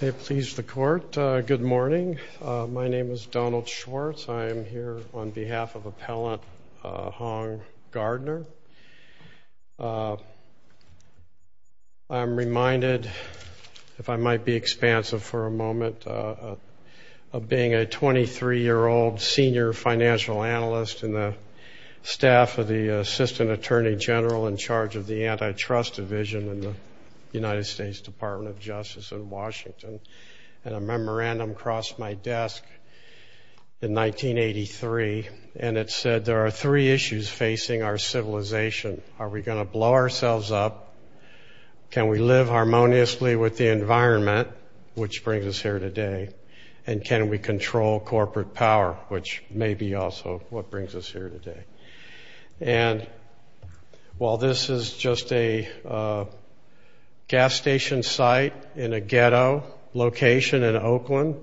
Please the court. Good morning. My name is Donald Schwartz. I am here on behalf of Appellant Hong Gardner. I'm reminded, if I might be expansive for a moment, of being a 23-year-old senior financial analyst in the staff of the Assistant Attorney General in charge of the Antitrust Division in the United States Department of Justice in Washington. And a memorandum crossed my desk in 1983 and it said there are three issues facing our civilization. Are we going to blow ourselves up? Can we live harmoniously with the environment, which brings us here today? And can we control corporate power, which may be also what brings us here today? And while this is just a gas station site in a ghetto location in Oakland,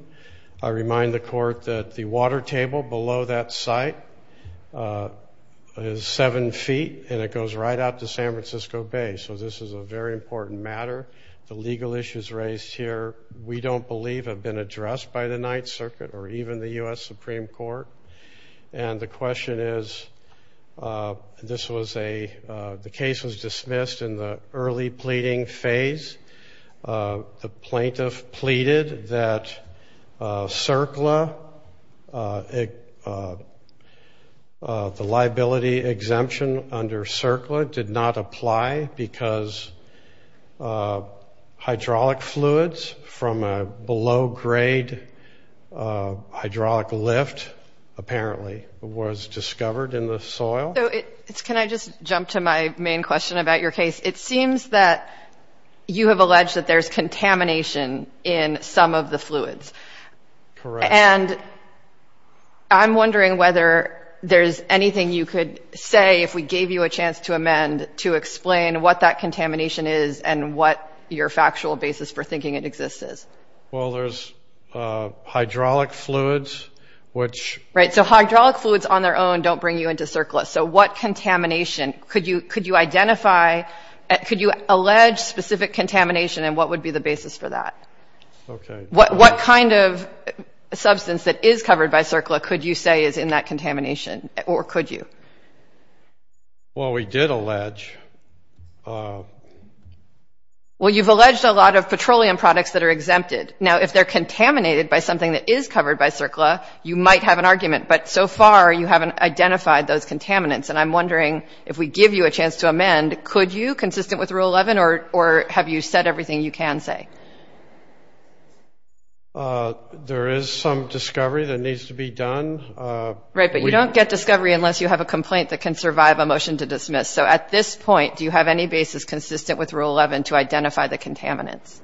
I remind the court that the water table below that site is seven feet and it goes right out to San Francisco Bay. So this is a very important matter. The legal issues raised here, we don't believe, have been addressed by the Ninth Circuit or even the US Supreme Court. And the question is, this was a, the case was dismissed in the early pleading phase. The plaintiff pleaded that CERCLA, the liability exemption under CERCLA did not apply because hydraulic fluids from a below-grade hydraulic lift, apparently, was discovered in the soil. Can I just jump to my main question about your case? It seems that you have alleged that there's contamination in some of the fluids. Correct. And I'm wondering whether there's anything you could say if we gave you a chance to amend to explain what that contamination is and what your factual basis for thinking it exists is. Well, there's hydraulic fluids, which... Right, so hydraulic fluids on their own don't bring you into CERCLA. So what contamination? Could you identify, could you allege specific contamination and what would be the basis for that? What kind of substance that is covered by CERCLA could you say is in that contamination or could you? Well, we did allege... Well, you've alleged a lot of petroleum products that are exempted. Now, if they're contaminated by something that is covered by CERCLA, you might have an argument. But so far, you haven't identified those contaminants. And I'm wondering, if we give you a chance to amend, could you, consistent with Rule 11, or have you said everything you can say? There is some discovery that needs to be done. Right, but you don't get discovery unless you have a complaint that can survive a motion to dismiss. So at this point, do you have any basis consistent with Rule 11 to identify the contaminants?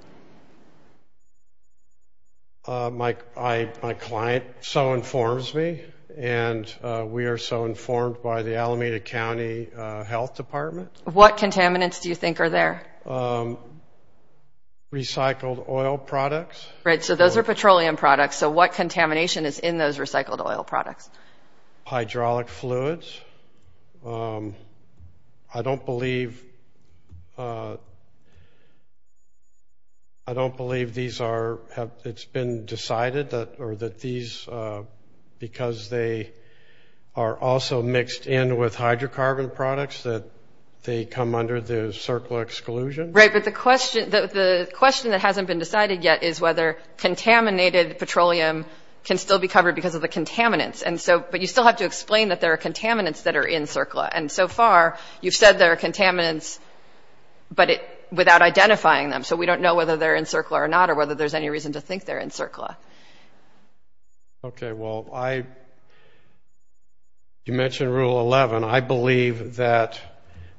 My wife informs me, and we are so informed by the Alameda County Health Department. What contaminants do you think are there? Recycled oil products. Right, so those are petroleum products. So what contamination is in those recycled oil products? Hydraulic fluids. I don't believe... I don't believe these are... it's been decided that these, because they are also mixed in with hydrocarbon products, that they come under the CERCLA exclusion. Right, but the question that hasn't been decided yet is whether contaminated petroleum can still be covered because of the contaminants. And so, but you still have to explain that there are contaminants that are in CERCLA. And so far, you've said there are contaminants, but without identifying them. So we don't know whether they're in CERCLA or not or whether there's any reason to think they're in CERCLA. Okay, well I... you mentioned Rule 11. I believe that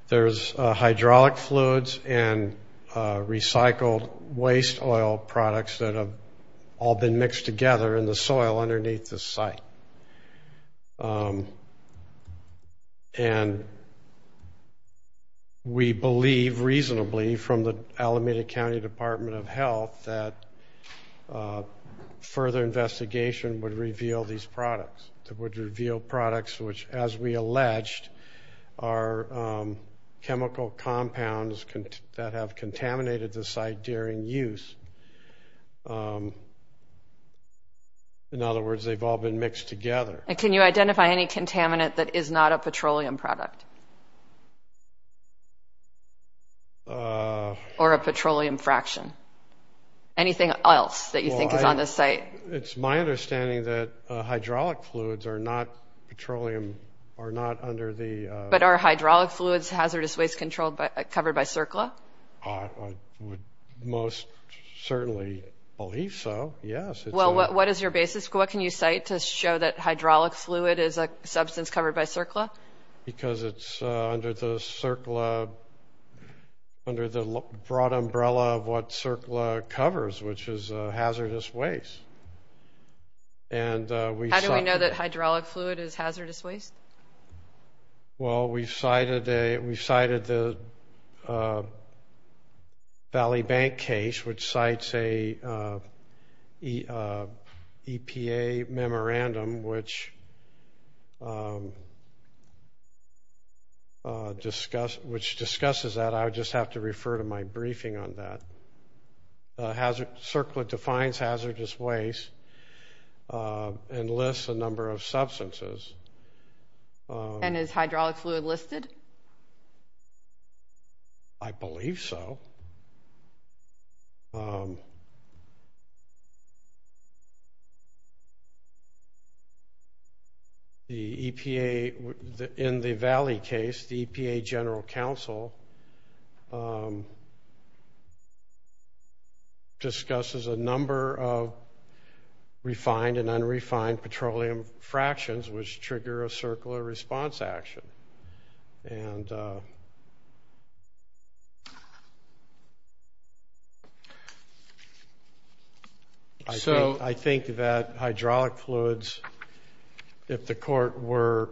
there's hydraulic fluids and recycled waste oil products that have all been mixed together in the soil underneath the site. And we believe, reasonably, from the Alameda County Department of Health, that further investigation would reveal these products. That would reveal products which, as we alleged, are chemical compounds that have contaminated the site during use. In other words, they've all been mixed together. And can you identify any contaminant that is not a reaction? Anything else that you think is on this site? It's my understanding that hydraulic fluids are not petroleum – are not under the... But are hydraulic fluids hazardous waste controlled by – covered by CERCLA? I would most certainly believe so, yes. It's a... Well, what is your basis? What can you cite to show that hydraulic fluid is a substance covered by CERCLA? Because it's under the CERCLA... under the broad umbrella of what CERCLA covers, which is hazardous waste. And we... How do we know that hydraulic fluid is hazardous waste? Well, we cited a... we cited the Valley Bank case, which cites a EPA memorandum which discusses that. I would just have to refer to my briefing on that. CERCLA defines hazardous waste and lists a number of substances. And is hydraulic fluid listed? I believe so. The EPA – in the Valley case, the EPA General Council discusses a number of refined and unrefined petroleum fractions, which trigger a CERCLA response action. And I think that hydraulic fluids, if the court were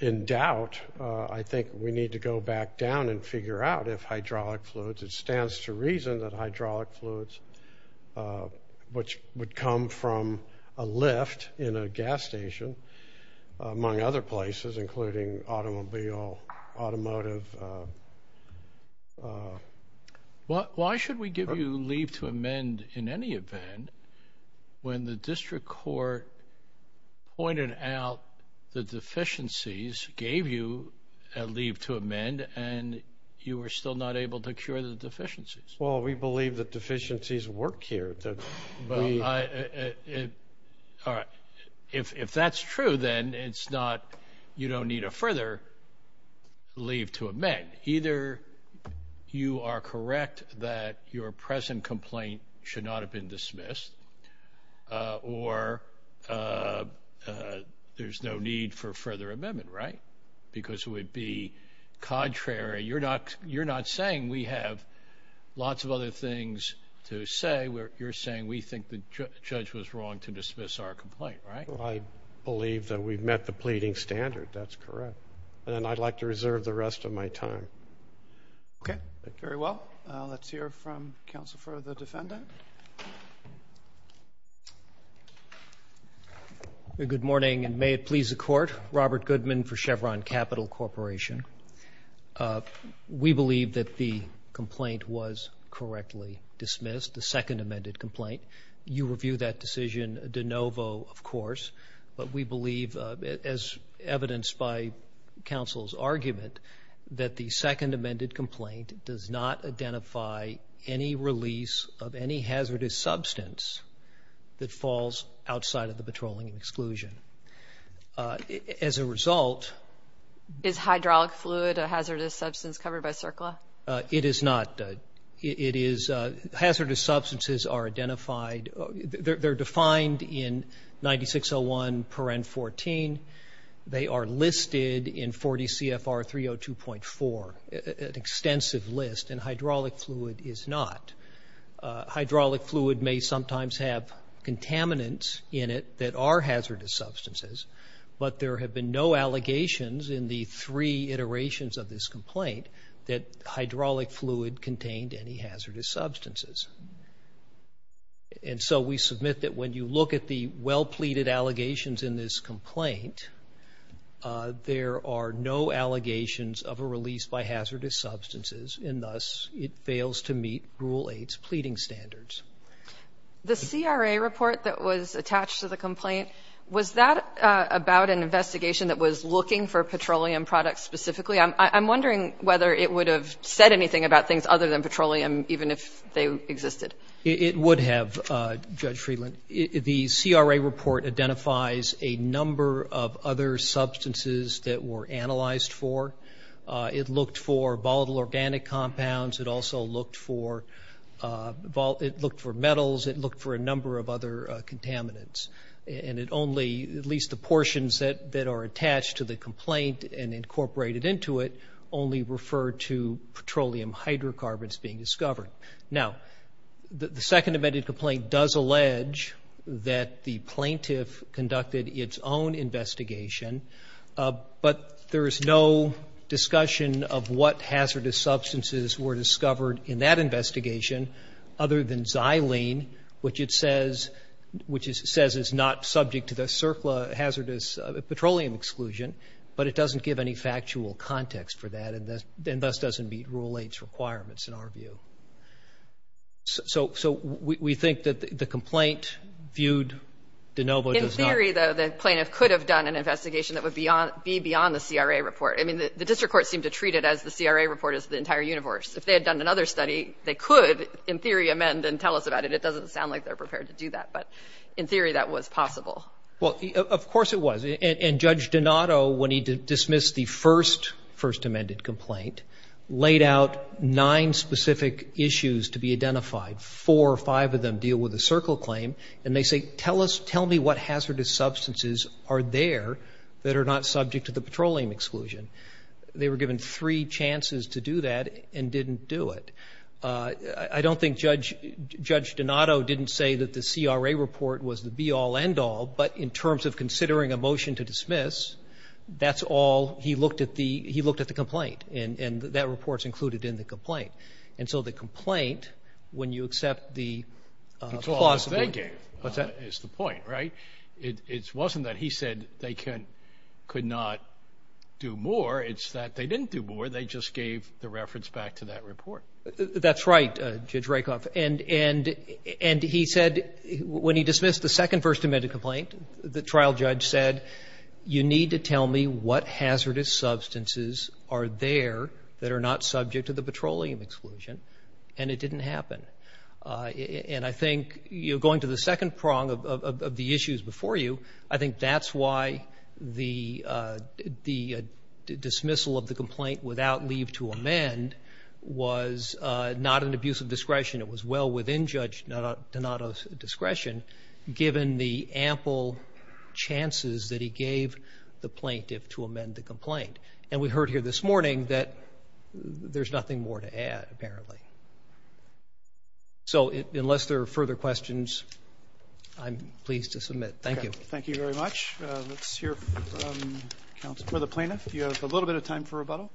in doubt, I think we need to go back down and figure out if hydraulic fluids – it stands to reason that hydraulic fluids, which would come from a lift in a gas station, among other places, including automobile, automotive... Why should we give you leave to amend in any event when the district court pointed out the deficiencies, gave you a leave to amend, and you were still not able to cure the deficiencies? Well, we believe that deficiencies work here. Well, if that's true, then it's not – you don't need a further leave to amend. Either you are correct that your present complaint should not have been dismissed, or there's no need for further amendment, right? Because it would be contrary – you're not saying we have lots of other things to say. You're saying we think the judge was wrong to dismiss our complaint, right? I believe that we've met the pleading standard. That's correct. And I'd like to reserve the rest of my time. Okay. Very well. Let's hear from counsel for the defendant. Well, good morning, and may it please the court. Robert Goodman for Chevron Capital Corporation. We believe that the complaint was correctly dismissed, the second amended complaint. You review that decision de novo, of course, but we believe, as evidenced by counsel's argument, that the second amended complaint does not identify any release of any hazardous substance that falls outside of the patrolling exclusion. As a result – Is hydraulic fluid a hazardous substance covered by CERCLA? It is not. It is – hazardous substances are identified – they're defined in 9601.14. They are listed in 40 CFR 302.4, an extensive list, and hydraulic fluid is not. Hydraulic fluid may sometimes have contaminants in it that are hazardous substances, but there have been no allegations in the three iterations of this complaint that hydraulic fluid contained any hazardous substances. And so we submit that when you look at the well-pleaded allegations in this complaint, there are no allegations of a release by hazardous substances, and thus it fails to meet Rule 8's pleading standards. The CRA report that was attached to the complaint, was that about an investigation that was looking for petroleum products specifically? I'm wondering whether it would have said anything about things other than petroleum, even if they existed. It would have, Judge Friedland. The CRA report identifies a number of other substances that were analyzed for. It looked for volatile organic compounds. It also looked for – it looked for metals. It looked for a number of other contaminants. And it only – at least the portions that are attached to the complaint and incorporated into it only refer to petroleum hydrocarbons being discovered. Now, the second amended complaint does allege that the plaintiff conducted its own investigation, but there is no discussion of what hazardous substances were discovered in that investigation other than xylene, which it says – which it says is not subject to the CERCLA hazardous petroleum exclusion, but it doesn't give any factual context for that, and thus doesn't meet Rule 8's requirements, in our view. So we think that the complaint viewed de novo does not – be beyond the CRA report. I mean, the district court seemed to treat it as the CRA report is the entire universe. If they had done another study, they could, in theory, amend and tell us about it. It doesn't sound like they're prepared to do that. But in theory, that was possible. Well, of course it was. And Judge Donato, when he dismissed the first – first amended complaint, laid out nine specific issues to be identified. Four or five of them deal with the CERCLA claim. And they say, tell us – tell me what hazardous substances are there that are not subject to the petroleum exclusion. They were given three chances to do that and didn't do it. I don't think Judge – Judge Donato didn't say that the CRA report was the be-all, end-all, but in terms of considering a motion to dismiss, that's all – he looked at the – he looked at the complaint, and that report's included in the complaint. And so the complaint, when you accept the – is the point, right? It wasn't that he said they can – could not do more. It's that they didn't do more. They just gave the reference back to that report. That's right, Judge Rakoff. And – and he said, when he dismissed the second first amended complaint, the trial judge said, you need to tell me what hazardous substances are there that are not subject to the petroleum exclusion. And it didn't happen. And I think, you know, going to the second prong of the issues before you, I think that's why the – the dismissal of the complaint without leave to amend was not an abuse of discretion. It was well within Judge Donato's discretion, given the ample chances that he gave the plaintiff to amend the complaint. And we heard here this morning that there's nothing more to add, apparently. So unless there are further questions, I'm pleased to submit. Thank you. Thank you very much. Let's hear from the plaintiff. You have a little bit of time for rebuttal.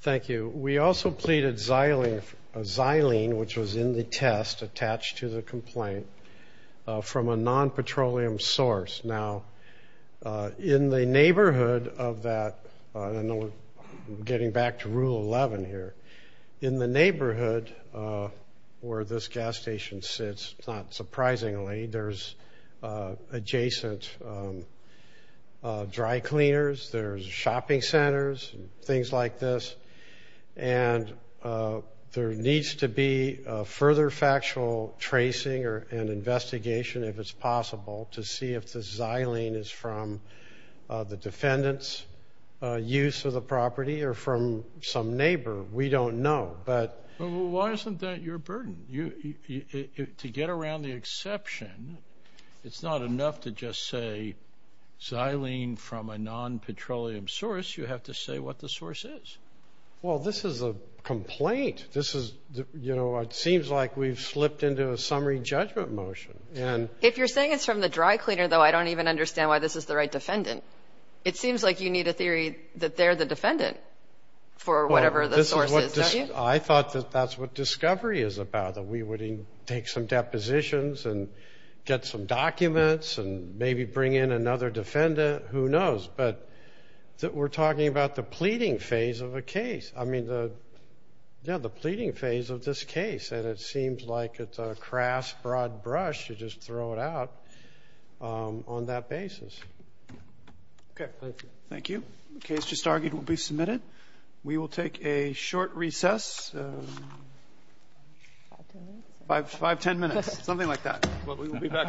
Thank you. We also pleaded xylene, which was in the test attached to the complaint, from a non-petroleum source. Now, in the neighborhood of that – I know we're getting back to Rule 11 here. In the neighborhood where this gas station sits, not surprisingly, there's adjacent dry cleaners, there's shopping centers, things like this. And there needs to be further factual tracing and investigation, if it's possible, to see if the xylene is from the defendant's use of the property or from some neighbor. We don't know. But – But why isn't that your burden? To get around the exception, it's not enough to just say xylene from a non-petroleum source. You have to say what the source is. Well, this is a complaint. This is – you know, it seems like we've slipped into a summary judgment motion. And – If you're saying it's from the dry cleaner, though, I don't even understand why this is the right defendant. It seems like you need a theory that they're the defendant for whatever the – I thought that that's what discovery is about, that we would take some depositions and get some documents and maybe bring in another defendant. Who knows? But we're talking about the pleading phase of a case. I mean, the – yeah, the pleading phase of this case. And it seems like it's a crass, broad brush to just throw it out on that basis. OK, thank you. Thank you. The case just argued will be submitted. We will take a short recess. Five, 10 minutes. Something like that. But we will be back shortly.